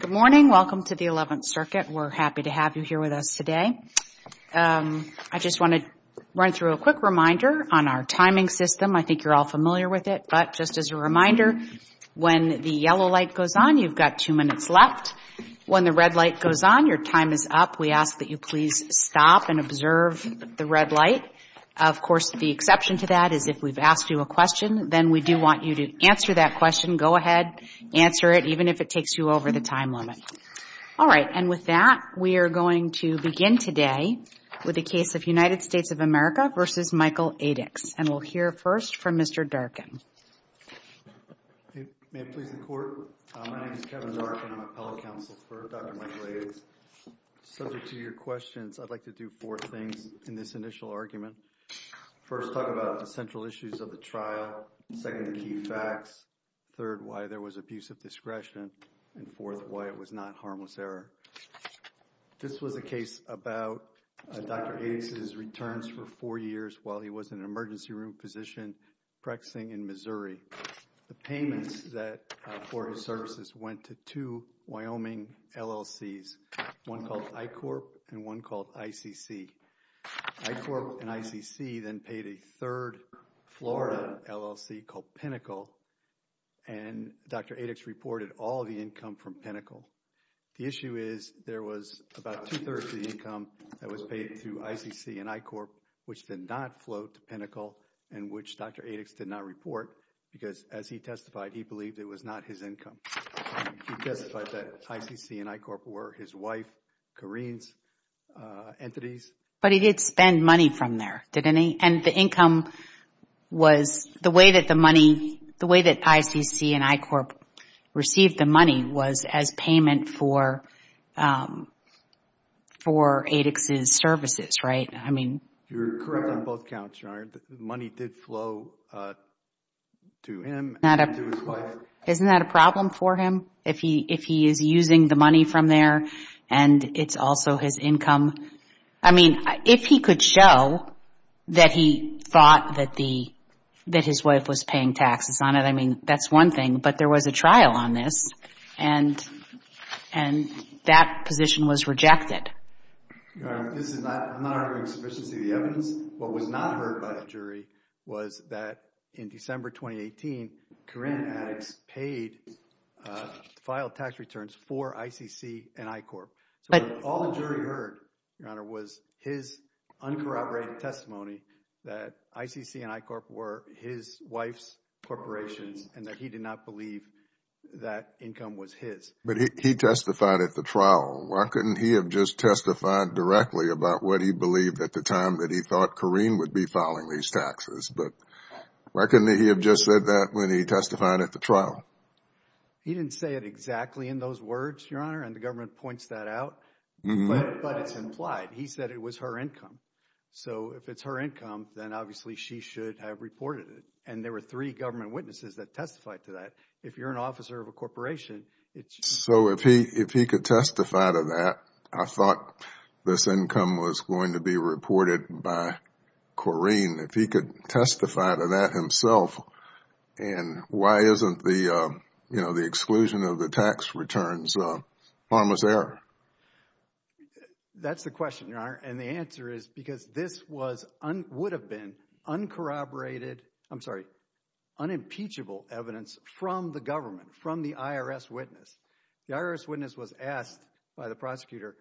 Good morning. Welcome to the 11th Circuit. We're happy to have you here with us today. I just want to run through a quick reminder on our timing system. I think you're all familiar with it, but just as a reminder, when the yellow light goes on, you've got two minutes left. When the red light goes on, your time is up. We ask that you please stop and observe the red light. Of course, the exception to that is if we've asked you a question, then we do want you to answer that question. Go ahead, answer it, even if it takes you over the time limit. All right. And with that, we are going to begin today with the case of United States of America v. Michael Adix. And we'll hear first from Mr. Darkin. Kevin Darkin May it please the Court? My name is Kevin Darkin. I'm a fellow counsel for Dr. Michael Adix. Subject to your questions, I'd like to do four things in this initial argument. First, talk about the central issues of the trial. Second, the key facts. Third, why there was abusive discretion. And fourth, why it was not harmless error. This was a case about Dr. Adix's returns for four years while he was in an emergency room position practicing in Missouri. The payments that for his services went to two Wyoming LLCs, one called I-Corp and one called ICC. I-Corp and ICC then paid a third Florida LLC called Pinnacle. And Dr. Adix reported all the income from Pinnacle. The issue is there was about two-thirds of the income that was paid to ICC and I-Corp, which did not flow to Pinnacle and which Dr. Adix did not report because as he testified, he believed it was not his income. He testified that ICC and I-Corp were his wife, Kareen's entities. But he did spend money from there, didn't he? And the income was, the way that the money, the way that ICC and I-Corp received the money was as payment for Adix's services, right? I mean... You're correct on both counts, Your Honor. The money did flow to him and to his wife. Isn't that a problem for him if he is using the money from there and it's also his income? I mean, if he could show that he thought that the, that his wife was paying taxes on it, I mean, that's one thing, but there was a trial on this and that position was rejected. Your Honor, this is not honoring sufficiency of the evidence. What was not heard by the jury was that in December 2018, Kareen and Adix paid, filed tax returns for ICC and I-Corp. All the jury heard, Your Honor, was his uncorroborated testimony that ICC and I-Corp were his wife's corporations and that he did not believe that income was his. But he testified at the trial. Why couldn't he have just testified directly about what he believed at the time that he thought Kareen would be filing these taxes? But why couldn't he have just said that when he testified at the trial? He didn't say it exactly in those words, and the government points that out, but it's implied. He said it was her income. So if it's her income, then obviously she should have reported it. And there were three government witnesses that testified to that. If you're an officer of a corporation, it's... So if he could testify to that, I thought this income was going to be reported by Kareen. If he could testify to that himself, then why isn't the exclusion of the tax returns harmless error? That's the question, Your Honor, and the answer is because this would have been unimpeachable evidence from the government, from the IRS witness. The IRS witness was asked by the prosecutor,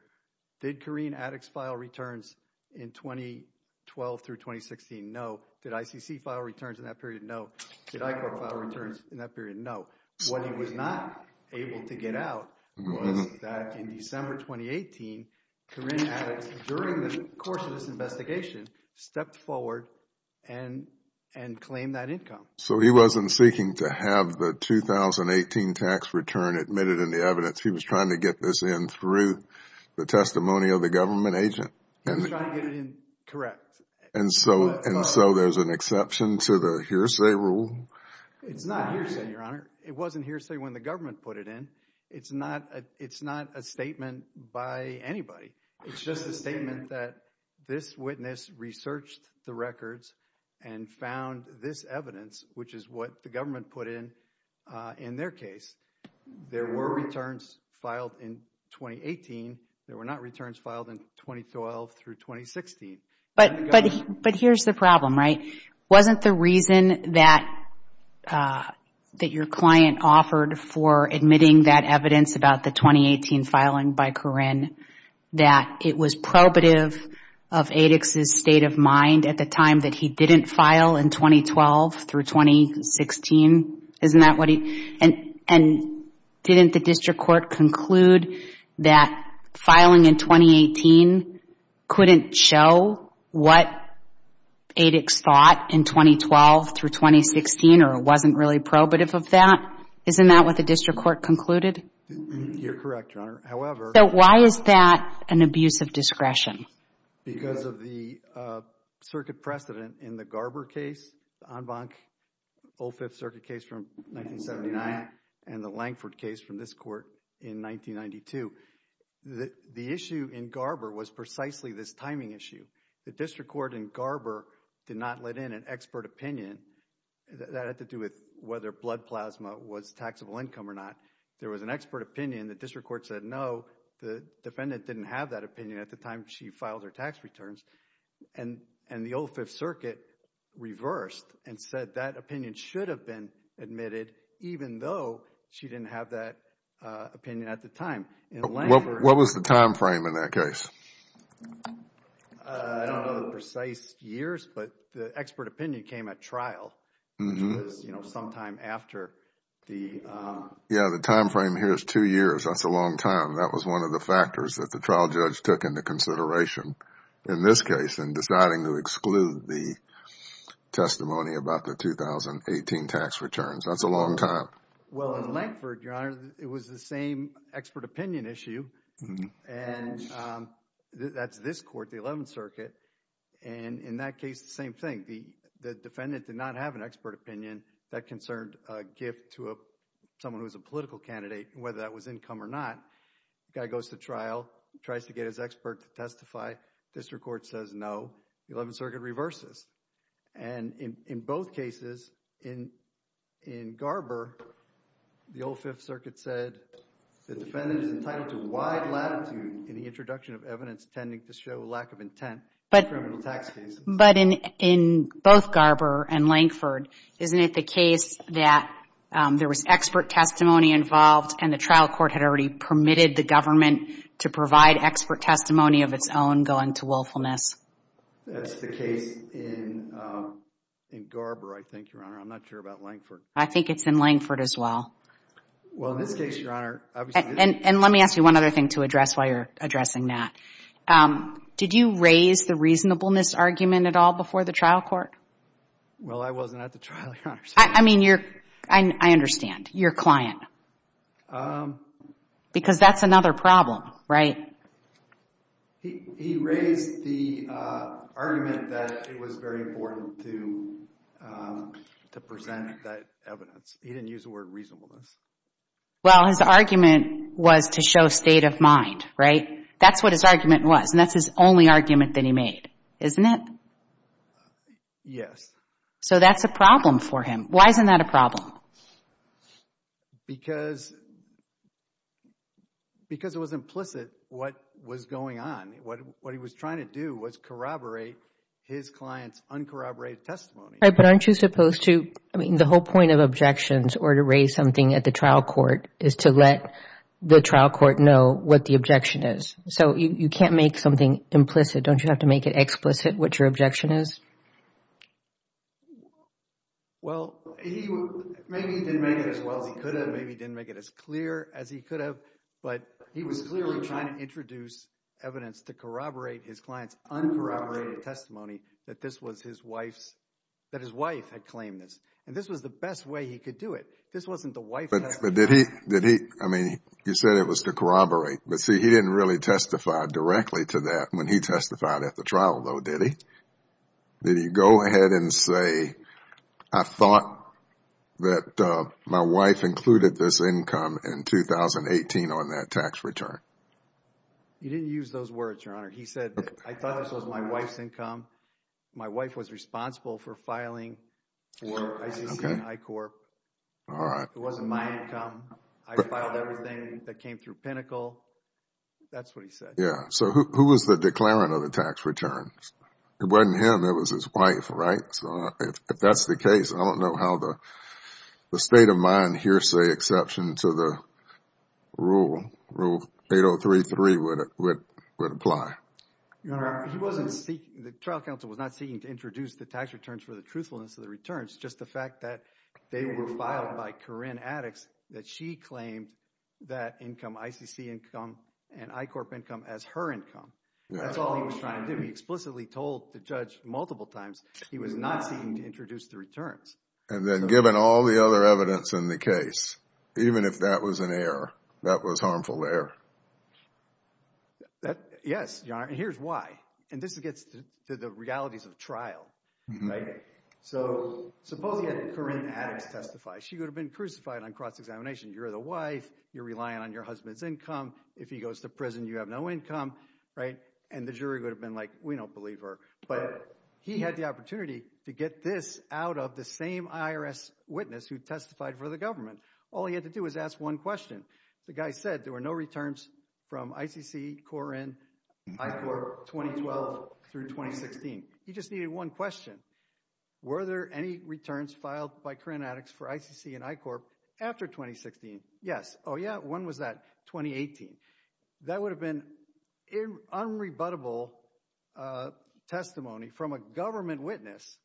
did Kareen Addix file returns in 2012 through 2016? No. Did ICC file returns in that period? No. Did ICOR file returns in that period? No. What he was not able to get out was that in December 2018, Kareen Addix, during the course of this investigation, stepped forward and claimed that income. So he wasn't seeking to have the 2018 tax return admitted in the evidence. He was trying to get this in through the testimony of the government agent. He was trying to get it in, correct. And so there's an exception to the hearsay rule? It's not hearsay, Your Honor. It wasn't hearsay when the government put it in. It's not a statement by anybody. It's just a statement that this witness researched the records and found this evidence, which is what the government put in in their case. There were returns filed in 2018. There were not returns filed in 2012 through 2016. But here's the problem, right? Wasn't the reason that your client offered for admitting that evidence about the 2018 filing by Kareen that it was probative of Addix's state of mind at the time that he didn't file in 2012 through 2016? And didn't the district court conclude that filing in 2018 couldn't show what Addix thought in 2012 through 2016, or it wasn't really probative of that? Isn't that what the district court concluded? You're correct, Your Honor. However... So why is that an abuse of discretion? Because of the circuit precedent in the Garber case Anbank, Old Fifth Circuit case from 1979, and the Lankford case from this court in 1992. The issue in Garber was precisely this timing issue. The district court in Garber did not let in an expert opinion that had to do with whether blood plasma was taxable income or not. There was an expert opinion. The district court said no. The defendant didn't have that opinion at the time she filed her tax returns, and the Old Fifth Circuit reversed and said that opinion should have been admitted even though she didn't have that opinion at the time. What was the time frame in that case? I don't know the precise years, but the expert opinion came at trial, which was sometime after the... Yeah, the time frame here is two years. That's a long time. That was one of the factors that the trial judge took into consideration in this case in deciding to exclude the testimony about the 2018 tax returns. That's a long time. Well, in Lankford, Your Honor, it was the same expert opinion issue, and that's this court, the Eleventh Circuit, and in that case the same thing. The defendant did not have an expert opinion that concerned a gift to someone who was a political candidate, whether that was income or not. Guy goes to trial, tries to get his expert to testify. District Court says no. The Eleventh Circuit reverses, and in both cases in Garber, the Old Fifth Circuit said the defendant is entitled to wide latitude in the introduction of evidence tending to show lack of intent in criminal tax cases. But in both Garber and Lankford, isn't it the case that there was expert testimony involved and the trial court had already permitted the government to provide expert testimony of its own going to willfulness? That's the case in Garber, I think, Your Honor. I'm not sure about Lankford. I think it's in Lankford as well. Well, in this case, Your Honor, obviously... And let me ask you one other thing to address while you're addressing that. Did you raise the reasonableness argument at all before the trial court? Well, I wasn't at the trial, Your Honor. I mean, I understand, your client. Because that's another problem, right? He raised the argument that it was very important to present that evidence. He didn't use the word reasonableness. Well, his argument was to show state of mind, right? That's what his argument was, and that's his only argument that he made, isn't it? Yes. So that's a problem for him. Why isn't that a problem? Because it was implicit what was going on. What he was trying to do was corroborate his client's uncorroborated testimony. But aren't you supposed to... I mean, the whole point of objections or to raise something at the trial court is to let the trial court know what the objection is. So you can't make something implicit. Don't you have to make it explicit what your objection is? Well, maybe he didn't make it as well as he could have. Maybe he didn't make it as clear as he could have. But he was clearly trying to introduce evidence to corroborate his client's uncorroborated testimony that this was his wife's, that his wife had claimed this. And this was the best way he could do it. This wasn't the wife... But did he, I mean, he said it was to corroborate. But see, he didn't really testify directly to that when he testified at the trial, though, did he? Did he go ahead and say, I thought that my wife included this income in 2018 on that tax return? He didn't use those words, Your Honor. He said, I thought this was my wife's income. My wife was responsible for filing for ICC and I-Corp. It wasn't my income. I filed everything that came through Pinnacle. That's what he said. Yeah. So who was the declarant of the tax returns? It wasn't him. It was his wife, right? So if that's the case, I don't know how the state of mind hearsay exception to the Rule 8033 would apply. Your Honor, he wasn't seeking, the trial counsel was not seeking to introduce the tax returns for the truthfulness of the returns, just the fact that they were filed by Corrine Addix, that she claimed that income, ICC income and I-Corp income as her income. That's all he was trying to do. He explicitly told the judge multiple times he was not seeking to introduce the returns. And then given all the other evidence in the case, even if that was an error, that was harmful to error. Yes, Your Honor. And here's why. And this gets to the realities of trial, right? So suppose he had Corrine Addix testify. She would have been crucified on cross-examination. You're the wife. You're relying on your husband's income. If he goes to prison, you have no income, right? And the jury would have been like, we don't believe her. But he had the opportunity to get this out of the same IRS witness who testified for the government. All he had to do was ask one question. The guy said there were no returns from ICC, Corrine, I-Corp 2012 through 2016. He just needed one question. Were there any returns filed by Corrine Addix for ICC and I-Corp after 2016? Yes. Oh yeah? When was that? 2018. That would have been unrebuttable testimony from a government witness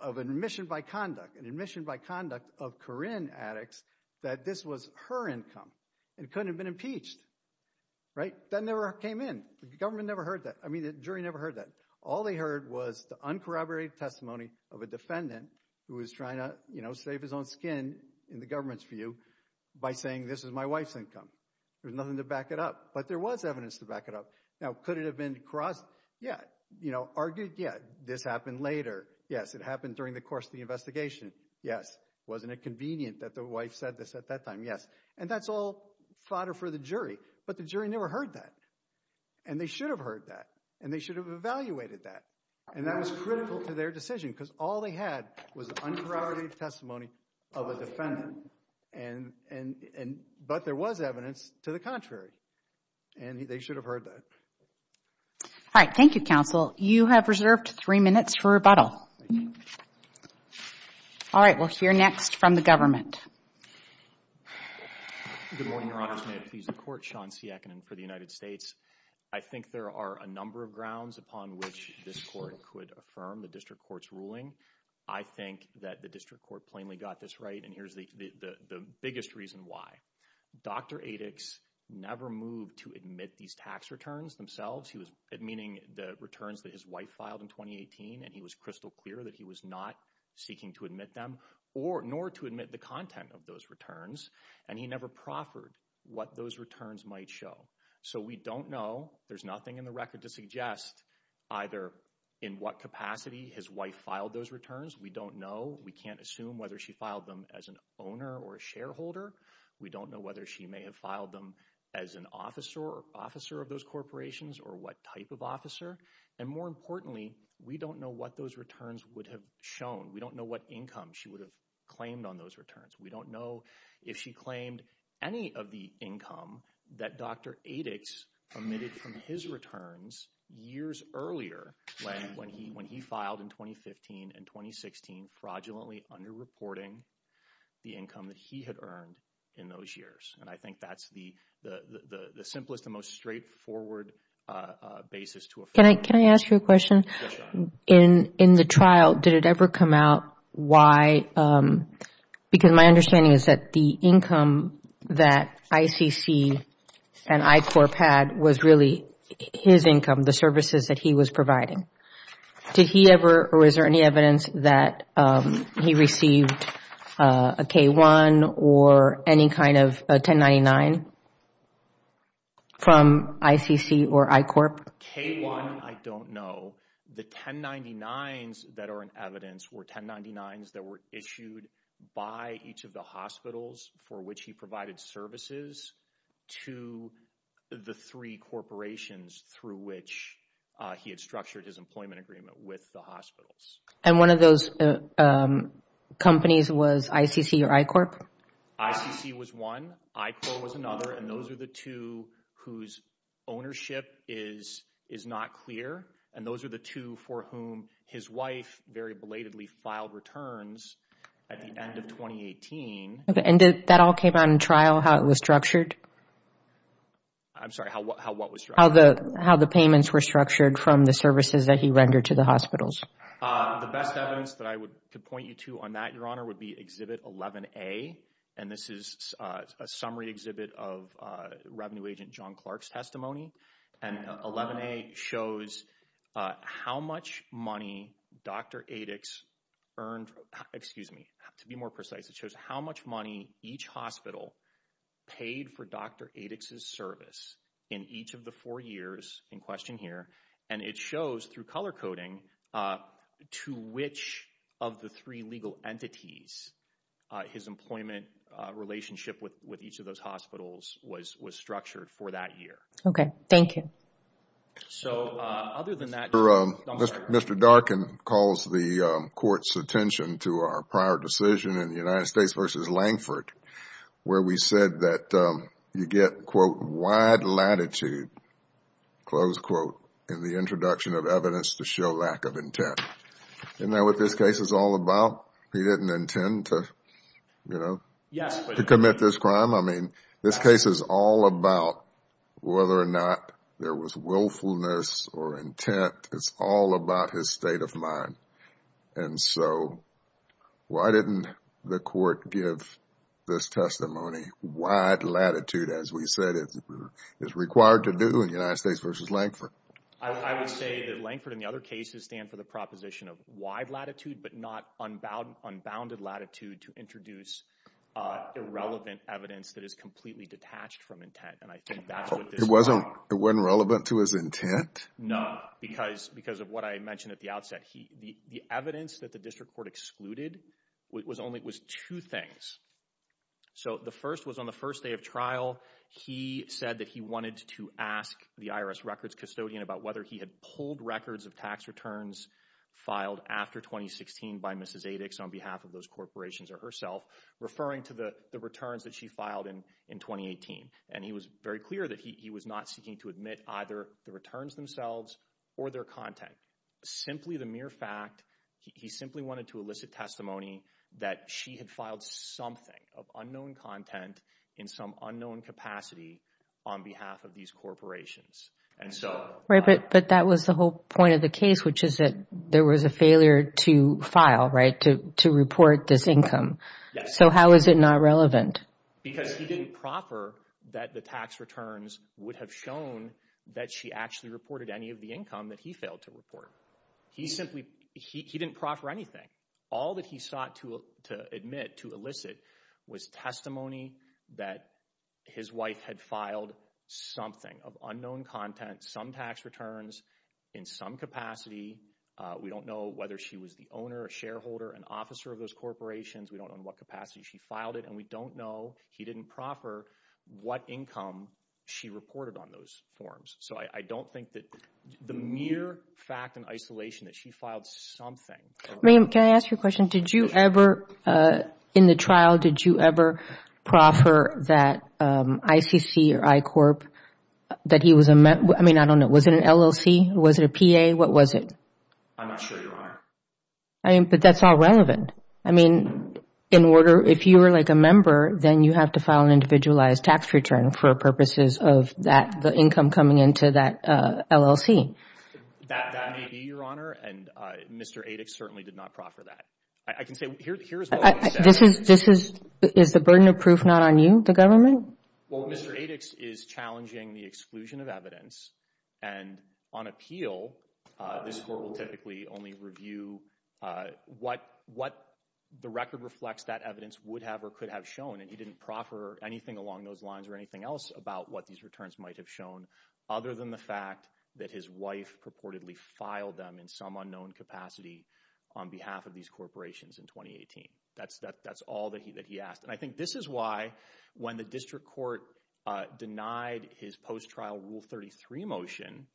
of admission by conduct, an admission by conduct of Corrine Addix, that this was her income and couldn't have been impeached, right? That never came in. The government never heard that. I mean, the jury never heard that. They heard was the uncorroborated testimony of a defendant who was trying to, you know, save his own skin in the government's view by saying, this is my wife's income. There's nothing to back it up. But there was evidence to back it up. Now, could it have been crossed? Yeah. You know, argued? Yeah. This happened later. Yes. It happened during the course of the investigation. Yes. Wasn't it convenient that the wife said this at that time? Yes. And that's all fodder for the jury. But the jury never heard that. And they should have heard that. And they should have evaluated that. And that was critical to their decision because all they had was uncorroborated testimony of a defendant. But there was evidence to the contrary. And they should have heard that. All right. Thank you, counsel. You have reserved three minutes for rebuttal. All right. We'll hear next from the government. Good morning, Your Honor. May it please the court. Sean Siakinen for the United States. I think there are a number of grounds upon which this court could affirm the district court's ruling. I think that the district court plainly got this right. And here's the the biggest reason why. Dr. Adix never moved to admit these tax returns themselves. He was admitting the returns that his wife filed in 2018. And he was crystal clear that he was not seeking to admit them or nor to admit the content of those returns. And he never proffered what those returns might show. So we don't know. There's nothing in the record to suggest either in what capacity his wife filed those returns. We don't know. We can't assume whether she filed them as an owner or a shareholder. We don't know whether she may have filed them as an officer or officer of those corporations or what type of officer. And more importantly, we don't know what those returns would have shown. We don't know what income she would have claimed on those returns. We don't know if she claimed any of the income that Dr. Adix omitted from his returns years earlier when he filed in 2015 and 2016 fraudulently underreporting the income that he had earned in those years. And I think that's the simplest and most straightforward basis to affirm. Can I ask you a question? In the trial, did it ever come out why? Because my understanding is that the income that ICC and I-Corps had was really his income, the services that he was providing. Did he ever, or is there any evidence that he received a K-1 or any kind of a 1099 from ICC or I-Corp? K-1, I don't know. The 1099s that are in evidence were 1099s that were issued by each of the hospitals for which he provided services to the three corporations through which he had structured his employment agreement with the hospitals. And one of those companies was ICC or I-Corp? ICC was one. I-Corp was another. And those are the two whose ownership is not clear. And those are the two for whom his wife very belatedly filed returns at the end of 2018. And did that all came out in trial, how it was structured? I'm sorry, how what was structured? How the payments were structured from the services that he rendered to the hospitals. The best evidence that I could point you to on that, Your Honor, would be Exhibit 11A. And this is a summary exhibit of Revenue Agent John Clark's testimony. And 11A shows how much money Dr. Adix earned, excuse me, to be more precise, it shows how much money each hospital paid for Dr. Adix's service in each of the four years in question here. And it shows through color coding to which of the three legal entities his employment relationship with each of those hospitals was structured for that year. Okay, thank you. So other than that, Mr. Darkin calls the court's attention to our prior decision in the United States versus Langford, where we said that you get, quote, wide latitude, close quote, in the introduction of evidence to show lack of intent. Isn't that what this case is all about? He didn't intend to, you know, to commit this crime. I mean, this case is all about whether or not there was willfulness or intent. It's all about his state of mind. And so why didn't the court give this testimony wide latitude, as we said it is required to do in United States versus Langford? I would say that Langford and the other cases stand for the proposition of wide latitude, but not unbounded latitude to introduce irrelevant evidence that is completely detached from intent. And I think that's what this is about. It wasn't relevant to his intent? No, because of what I mentioned at the outset. The evidence that the district court excluded was only, it was two things. So the first was on the first day of trial, he said that he wanted to ask the IRS records custodian about whether he had pulled records of tax returns filed after 2016 by Mrs. Adix on behalf of those corporations or herself, referring to the returns that she filed in 2018. And he was very clear that he was not seeking to either the returns themselves or their content. Simply the mere fact, he simply wanted to elicit testimony that she had filed something of unknown content in some unknown capacity on behalf of these corporations. And so... Right, but that was the whole point of the case, which is that there was a failure to file, right, to report this income. So how is it not relevant? Because he didn't proffer that the tax returns would have shown that she actually reported any of the income that he failed to report. He simply, he didn't proffer anything. All that he sought to admit, to elicit, was testimony that his wife had filed something of unknown content, some tax returns in some capacity. We don't know whether she was the owner or shareholder and officer of those corporations. We don't know in what capacity she filed it and we don't know, he didn't proffer, what income she reported on those forms. So I don't think that the mere fact in isolation that she filed something... Ma'am, can I ask you a question? Did you ever, in the trial, did you ever proffer that ICC or I-Corp, that he was a... I mean, I don't know. Was it an LLC? Was it a PA? What was it? I'm not sure, Your Honor. But that's all relevant. I mean, in order, if you were like a member, then you have to file an individualized tax return for purposes of that, the income coming into that LLC. That may be, Your Honor, and Mr. Adix certainly did not proffer that. I can say, here's what he said. This is, this is, is the burden of proof not on you, the government? Well, Mr. Adix is challenging the exclusion of evidence and on appeal, this Court will typically only review what, what the record reflects that evidence would have or could have shown. And he didn't proffer anything along those lines or anything else about what these returns might have shown, other than the fact that his wife purportedly filed them in some unknown capacity on behalf of these corporations in 2018. That's, that's all that he, that he asked. And I think this is why, when the District Court denied his post-trial Rule 33 motion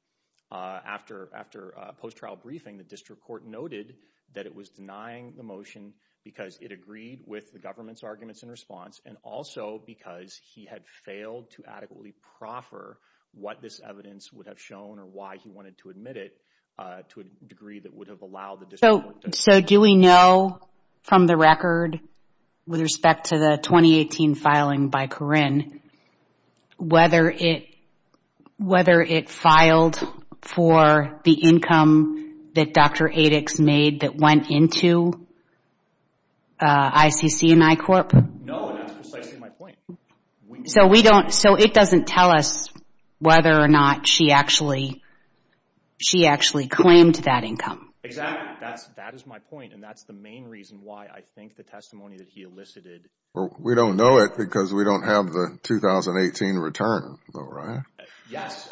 after, after post-trial briefing, the District Court noted that it was denying the motion because it agreed with the government's arguments in response and also because he had failed to adequately proffer what this evidence would have shown or why he wanted to admit it to a degree that would have allowed the District Court to... So, so do we know from the record with respect to the 2018 filing by Corrine, whether it, whether it filed for the income that Dr. Adix made that went into ICC and I-Corp? No, and that's precisely my point. So we don't, so it doesn't tell us whether or not she actually, she actually claimed that income? Exactly. That's, that is my point. And that's the main reason why I think the testimony that he elicited... Well, we don't know it because we don't have the 2018 return, though, right? Yes.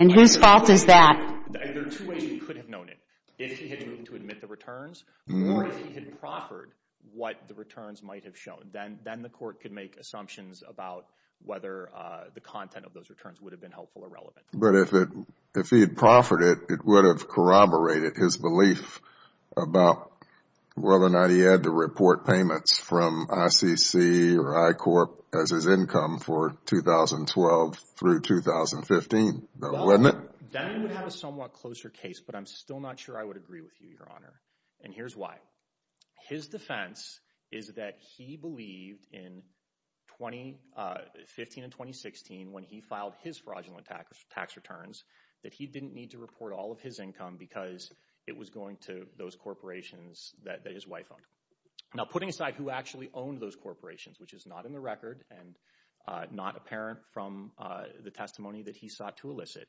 And whose fault is that? There are two ways he could have known it. If he had moved to admit the returns or if he had proffered what the returns might have shown, then, then the Court could make assumptions about whether the content of those returns would have been helpful or relevant. But if it, if he had proffered it, it would have corroborated his belief about whether or not he had to report payments from ICC or I-Corp as his income for 2012 through 2015, though, wasn't it? That would have a somewhat closer case, but I'm still not sure I would agree with you, Your Honor. And here's why. His defense is that he believed in 2015 and 2016, when he filed his fraudulent tax returns, that he didn't need to report all of his income because it was going to those corporations that his wife owned. Now, putting aside who actually owned those corporations, which is not in the record and not apparent from the testimony that he sought to elicit...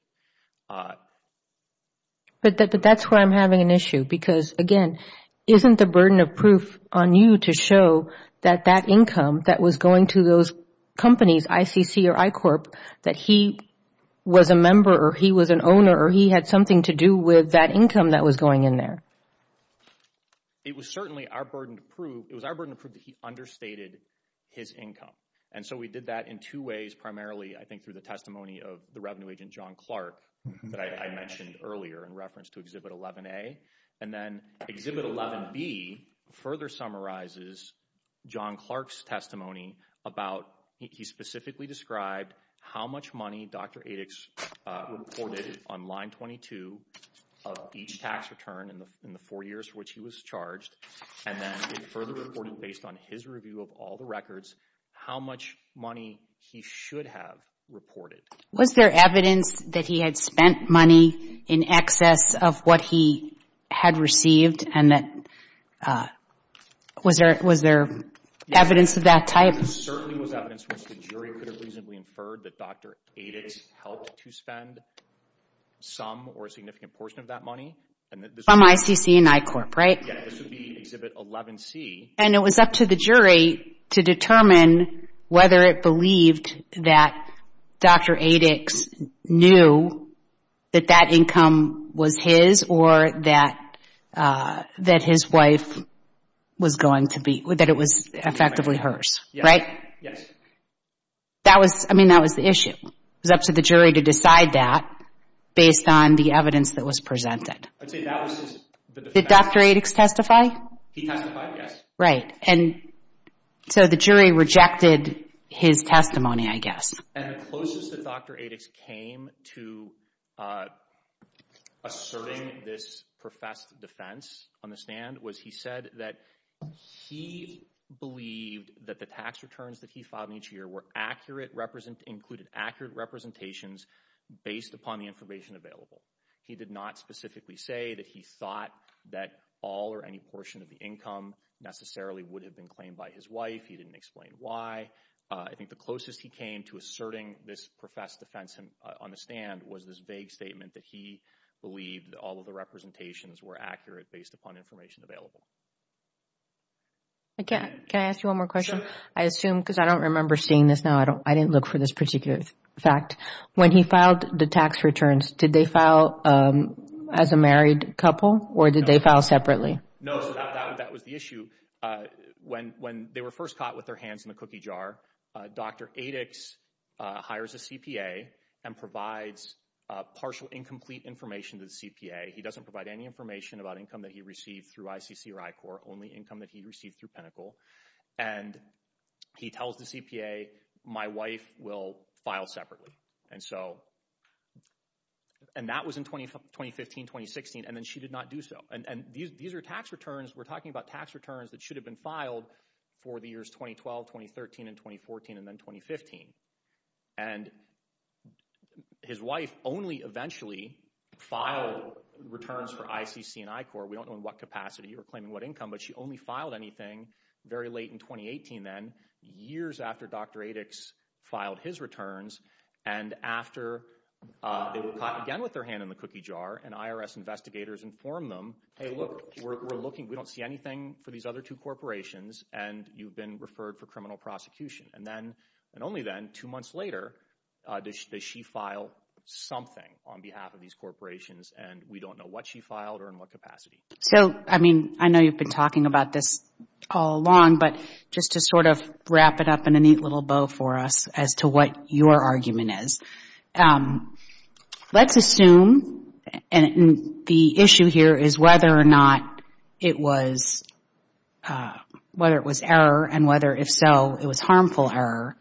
But that's where I'm having an issue because, again, isn't the burden of proof on you to show that that income that was going to those companies, ICC or I-Corp, that he was a member or he was an something to do with that income that was going in there? It was certainly our burden to prove, it was our burden to prove that he understated his income. And so we did that in two ways, primarily, I think, through the testimony of the revenue agent, John Clark, that I mentioned earlier in reference to Exhibit 11A. And then Exhibit 11B further summarizes John Clark's testimony about, he specifically described, how much money Dr. Adix reported on Line 22 of each tax return in the four years for which he was charged. And then it further reported, based on his review of all the records, how much money he should have reported. Was there evidence that he had spent money in excess of what he had received? And was there evidence of that type? There certainly was evidence which the jury could have reasonably inferred that Dr. Adix helped to spend some or a significant portion of that money. From ICC and I-Corp, right? Yeah, this would be Exhibit 11C. And it was up to the jury to determine whether it believed that Dr. Adix knew that that income was his or that his wife was going to be, that it was effectively hers, right? That was, I mean, that was the issue. It was up to the jury to decide that based on the evidence that was presented. Did Dr. Adix testify? He testified, yes. Right. And so the jury rejected his testimony, I guess. And the closest that Dr. Adix came to asserting this professed defense on the stand was he said that he believed that the tax returns that he filed each year were accurate, included accurate representations based upon the information available. He did not specifically say that he thought that all or any portion of the income necessarily would have been claimed by his wife. He didn't explain why. I think the closest he came to this professed defense on the stand was this vague statement that he believed that all of the representations were accurate based upon information available. Can I ask you one more question? I assume, because I don't remember seeing this now, I didn't look for this particular fact. When he filed the tax returns, did they file as a married couple or did they file separately? No, that was the issue. When they were first caught with their hands in the cookie jar, Dr. Adix hires a CPA and provides partial incomplete information to the CPA. He doesn't provide any information about income that he received through ICC or I-Corps, only income that he received through Pinnacle. And he tells the CPA, my wife will file separately. And so, and that was in 2015, 2016. And then she did not do so. And these are tax returns. We're 2012, 2013 and 2014 and then 2015. And his wife only eventually filed returns for ICC and I-Corps. We don't know in what capacity or claiming what income, but she only filed anything very late in 2018 then, years after Dr. Adix filed his returns. And after they were caught again with their hand in the cookie jar and IRS investigators inform them, hey, look, we're looking, we don't see anything for these other two corporations and you've been referred for criminal prosecution. And then, and only then, two months later, does she file something on behalf of these corporations and we don't know what she filed or in what capacity. So, I mean, I know you've been talking about this all along, but just to sort of wrap it up in a neat little bow for us as to what your argument is. Let's assume, and the issue here is whether or not it was, whether it was error and whether if so, it was harmful error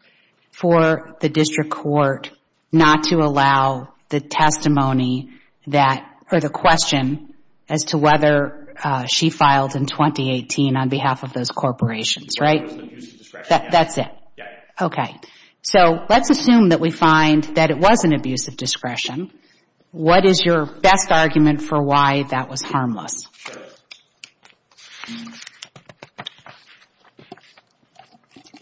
for the district court not to allow the testimony that, or the question as to whether she filed in 2018 on behalf of those corporations, right? That's it. Okay. So let's assume that we find that it was an abuse of discretion. What is your best argument for why that was harmless?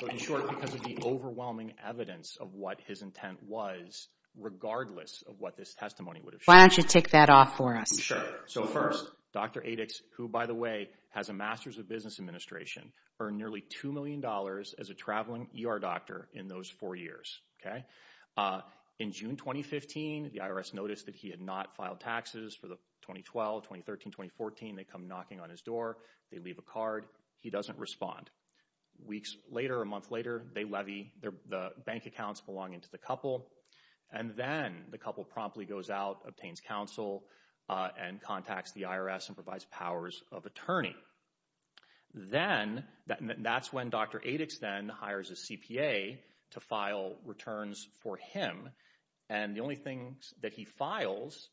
In short, because of the overwhelming evidence of what his intent was, regardless of what this testimony would have shown. Why don't you take that off for us? Sure. So first, Dr. Adix, who, by the way, has a Master's of Business Administration, earned nearly $2 million as a traveling ER doctor in those four years, okay? In June 2015, the IRS noticed that he had not filed taxes for the 2012, 2013, 2014. They come knocking on his door. They leave a card. He doesn't respond. Weeks later, a month later, they levy the bank accounts belonging to the couple, and then the couple promptly goes out, obtains counsel, and contacts the IRS and provides powers of attorney. Then, that's when Dr. Adix then hires a CPA to file returns for him, and the only thing that he files,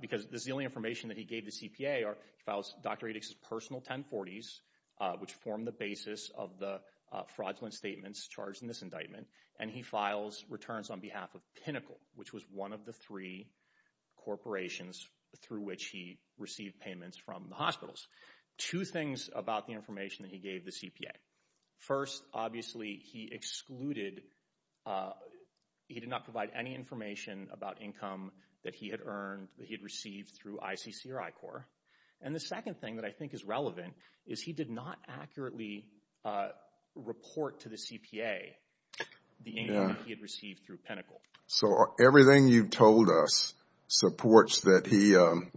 because this is the only information that he gave the CPA, he files Dr. Adix's personal 1040s, which formed the basis of the fraudulent statements charged in this indictment, and he files returns on behalf of Pinnacle, which was one of the three corporations through which he received payments from the hospitals. Two things about the information that he gave the CPA. First, obviously, he excluded, he did not provide any information about income that he had earned, that he had received through ICC or I-Corps, and the second thing that I think is relevant is he did not accurately report to the CPA the income that he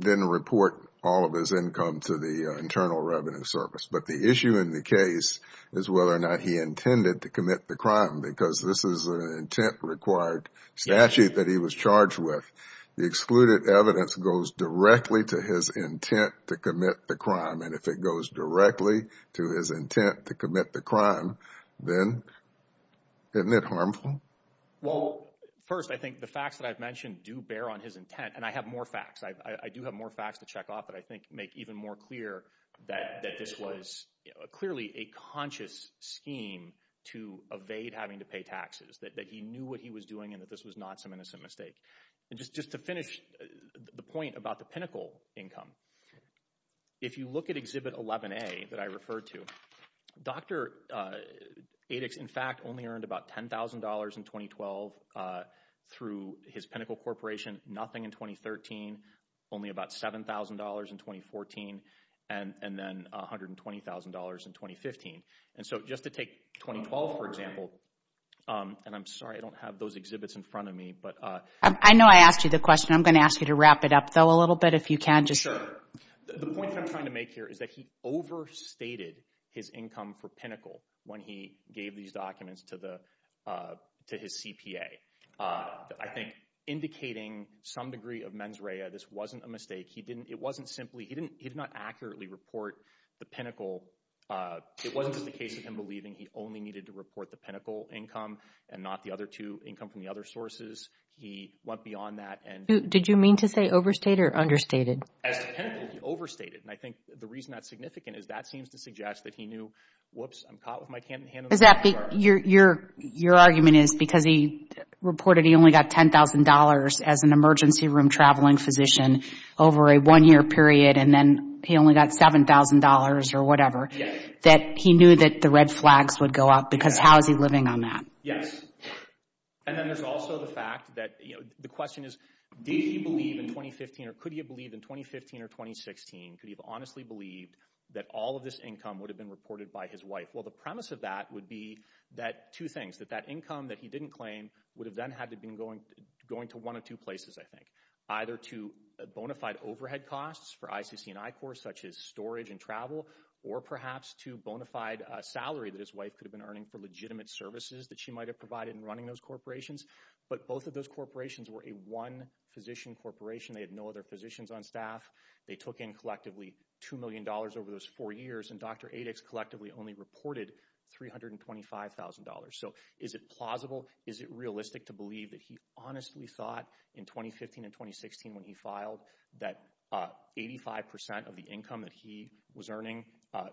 didn't report all of his income to the Internal Revenue Service, but the issue in the case is whether or not he intended to commit the crime, because this is an intent required statute that he was charged with. The excluded evidence goes directly to his intent to commit the crime, and if it goes directly to his intent to commit the crime, then isn't it harmful? Well, first, I think the facts that I've mentioned do bear on his intent, and I have more facts. I do have more facts to check off, but I think make even more clear that this was clearly a conscious scheme to evade having to pay taxes, that he knew what he was doing and that this was not some innocent mistake. And just to finish the point about the Pinnacle income, if you look at Exhibit 11A that I referred to, Dr. Adix, in fact, only earned about $10,000 in 2012 through his Pinnacle Corporation, nothing in 2013, only about $7,000 in 2014, and then $120,000 in 2015. And so just to take 2012, for example, and I'm sorry I don't have those exhibits in front of me, but... I know I asked you the question. I'm going to ask you to wrap it up, though, a little bit if you can. Sure. The point that I'm trying to make here is that he overstated his income for Pinnacle when he gave these documents to his CPA. I think indicating some degree of mens rea, this wasn't a mistake. He didn't, it wasn't simply, he did not accurately report the Pinnacle. It wasn't just a case of him believing he only needed to report the Pinnacle income and not the other two income from the other sources. He went beyond that and... Did you mean to say overstated or understated? As to Pinnacle, he overstated. And I think the reason that's significant is that seems to suggest that he knew, whoops, I'm caught with my hand in the... Is that because your argument is because he reported he only got $10,000 as an emergency room traveling physician over a one-year period and then he only got $7,000 or whatever, that he knew that the red flags would go up because how is he living on that? Yes. And then there's also the fact that the question is, did he believe in 2015 or could he have believed in 2015 or 2016? Could he have honestly believed that all of this income would have been reported by his wife? Well, the premise of that would be that two things, that that income that he didn't claim would have then had to been going to one of two places, I think. Either to bona fide overhead costs for ICC and I-Corps such as storage and travel, or perhaps to bona fide salary that his wife could have been earning for legitimate services that she might have provided in running those corporations. But both of those corporations were a one physician corporation. They had no other physicians on staff. They took in collectively $2 million over those four years and Dr. Adix collectively only reported $325,000. So is it plausible? Is it realistic to believe that he honestly thought in 2015 and 2016 when he filed that 85% of the income that he was earning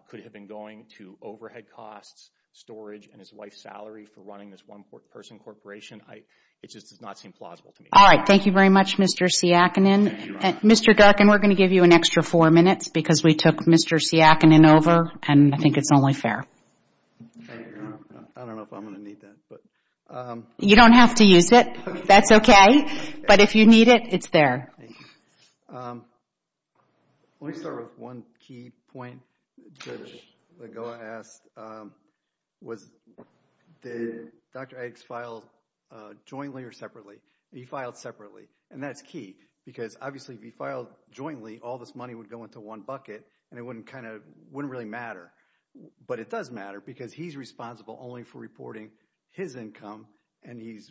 could have been going to overhead costs, storage, and his wife's salary for running this one person corporation? It just does not seem plausible to me. All right. Thank you very much, Mr. Siakonin. Mr. Duck, we're going to give you an extra four minutes because we took Mr. Siakonin over and I think it's only fair. I don't know if I'm going to need that. You don't have to use it. That's okay. But if you need it, it's there. Let me start with one key point. Judge Lagoa asked, did Dr. Adix file jointly or separately? He filed separately. And that's key because obviously if he filed jointly, all this money would go into one bucket and it wouldn't really matter. But it does matter because he's responsible only for reporting his income and he's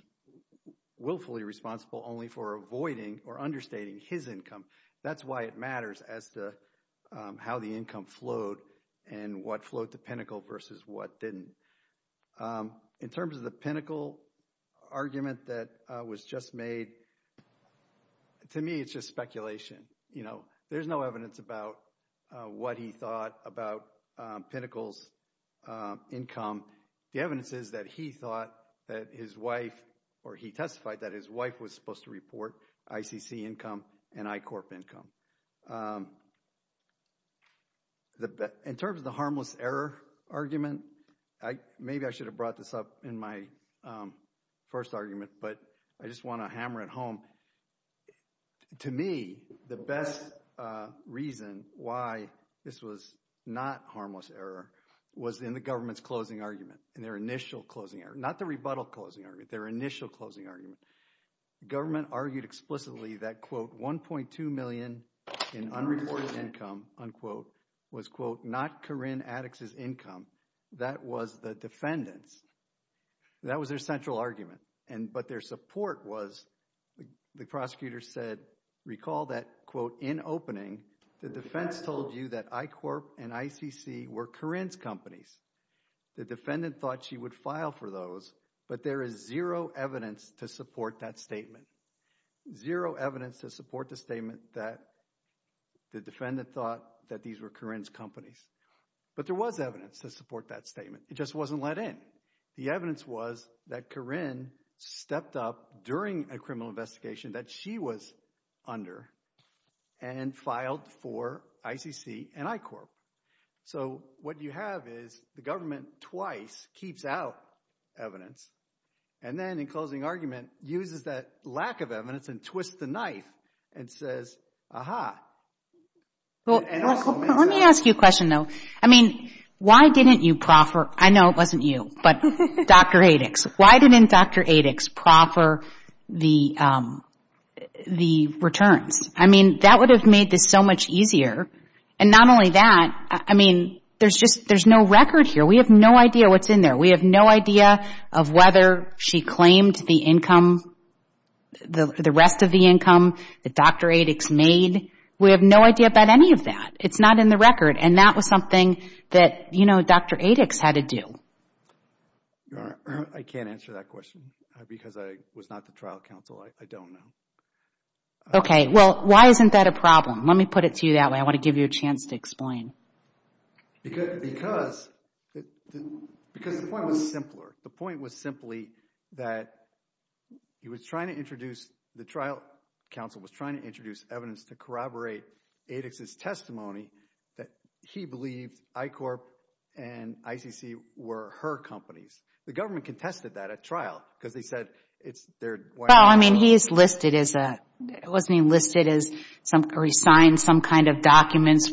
willfully responsible only for avoiding or understating his income. That's why it matters as to how the income flowed and what flowed to Pinnacle versus what didn't. In terms of the Pinnacle argument that was just made, to me it's just speculation. There's no evidence about what he thought about Pinnacle's income. The evidence is that he thought that his wife or he testified that his wife was supposed to report ICC income and I-Corp income. In terms of the harmless error argument, maybe I should have brought this up in my first argument, but I just want to hammer it home. To me, the best reason why this was not harmless error was in the government's closing argument, in their initial closing argument. Not the rebuttal closing argument, their initial closing argument. Government argued explicitly that, quote, $1.2 million in unreported income, unquote, was, quote, not Corrine Adix's income. That was the defendant's. That was their central argument, but their support was, the prosecutor said, recall that, quote, in opening, the defense told you that I-Corp and ICC were Corrine's companies. The defendant thought she would file for those, but there is zero evidence to support that statement. Zero evidence to support the statement that the defendant thought that these were Corrine's companies. But there was evidence to support that statement. It just wasn't let in. The evidence was that Corrine stepped up during a criminal investigation that she was under and filed for ICC and I-Corp. So what you have is the government twice keeps out evidence and then in closing argument uses that lack of evidence and twists the knife and says, aha. Let me ask you a question, though. I mean, why didn't you proffer, I know it wasn't you, but Dr. Adix, why didn't Dr. Adix proffer the returns? I mean, that would have made this so much easier. And not only that, I mean, there's no record here. We have no idea what's in there. We have no idea of whether she claimed the income, the rest of the income that Dr. Adix made. We have no idea about any of that. It's not in the record. And that was something that, you know, Dr. Adix had to do. I can't answer that question because I was not the trial counsel. I don't know. Okay. Well, why isn't that a problem? Let me put it to you that way. I Because the point was simpler. The point was simply that he was trying to introduce, the trial counsel was trying to introduce evidence to corroborate Adix's testimony that he believed I-Corp and ICC were her companies. The government contested that at trial because they said it's their. Well, I mean, he's listed as a, it wasn't even listed as some, or he signed some kind of or things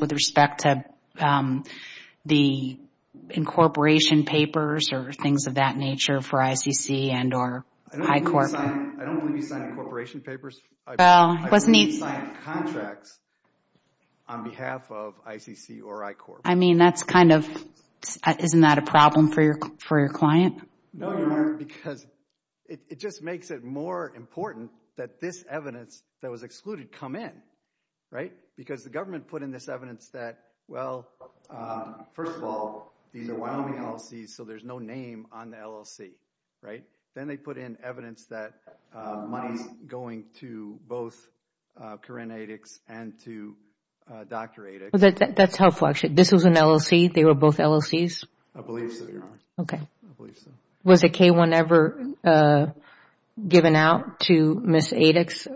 of that nature for ICC and or I-Corp. I don't believe he signed corporation papers. I believe he signed contracts on behalf of ICC or I-Corp. I mean, that's kind of, isn't that a problem for your client? No, Your Honor, because it just makes it more important that this evidence that was excluded come in, right? Because the government put in this evidence that, well, first of all, these are Wyoming LLCs, so there's no name on the LLC, right? Then they put in evidence that money's going to both Corinne Adix and to Dr. Adix. That's helpful, actually. This was an LLC? They were both LLCs? I believe so, Your Honor. Okay. I believe so. Was a K-1 ever given out to Ms. Adix?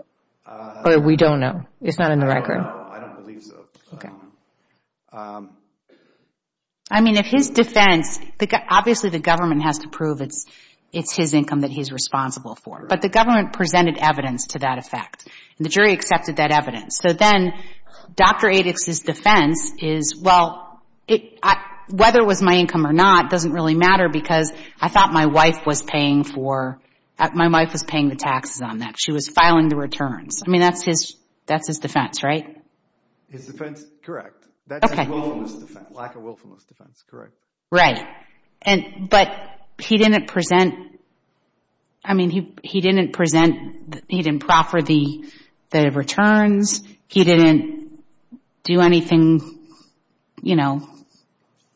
We don't know. It's not in the record. I don't believe so. Okay. I mean, if his defense, obviously the government has to prove it's his income that he's responsible for, but the government presented evidence to that effect, and the jury accepted that evidence. So then Dr. Adix's defense is, well, whether it was my income or not doesn't really matter because I thought my wife was paying for, my wife was paying the taxes on that. She was filing the I mean, that's his defense, right? His defense, correct. That's his willfulness defense, lack of willfulness defense, correct. Right. But he didn't present, he didn't proffer the returns. He didn't do anything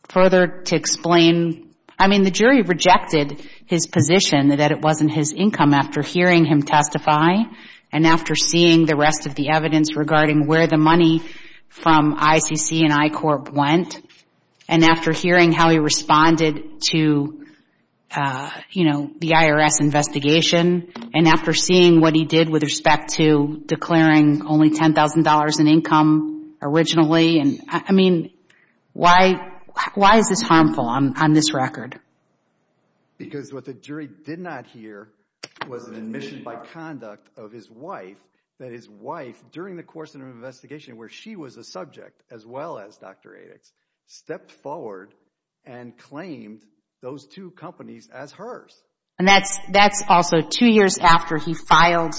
further to explain. I mean, the jury rejected his position that it wasn't his income after hearing him testify, and after seeing the rest of the evidence regarding where the money from ICC and I-Corp went, and after hearing how he responded to the IRS investigation, and after seeing what he did with respect to declaring only $10,000 in income originally. I mean, why is this harmful on this record? Because what the jury did not hear was an admission by conduct of his wife, that his wife, during the course of an investigation where she was a subject as well as Dr. Adix, stepped forward and claimed those two companies as hers. And that's also two years after he filed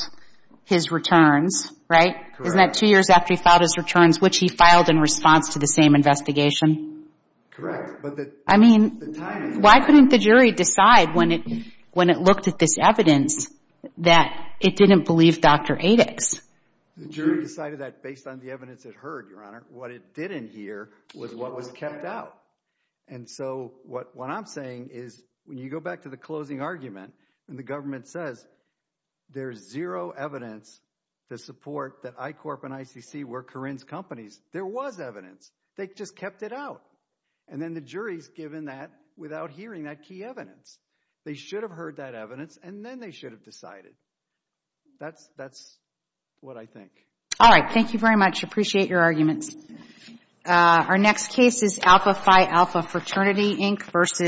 his returns, right? Correct. Isn't that two years after he filed his returns, which he filed in response to the same investigation? Correct. I mean, why couldn't the jury decide when it looked at this evidence that it didn't believe Dr. Adix? The jury decided that based on the evidence it heard, Your Honor. What it didn't hear was what was kept out. And so what I'm saying is, when you go back to the closing argument, and the government says there's zero evidence to support that I-Corp and ICC were Corrine's companies, there was evidence. They just kept it out. And then the jury's given that without hearing that key evidence. They should have heard that evidence, and then they should have decided. That's what I think. All right. Thank you very much. Appreciate your arguments. Our next case is Alpha Phi Alpha Fraternity, Inc. versus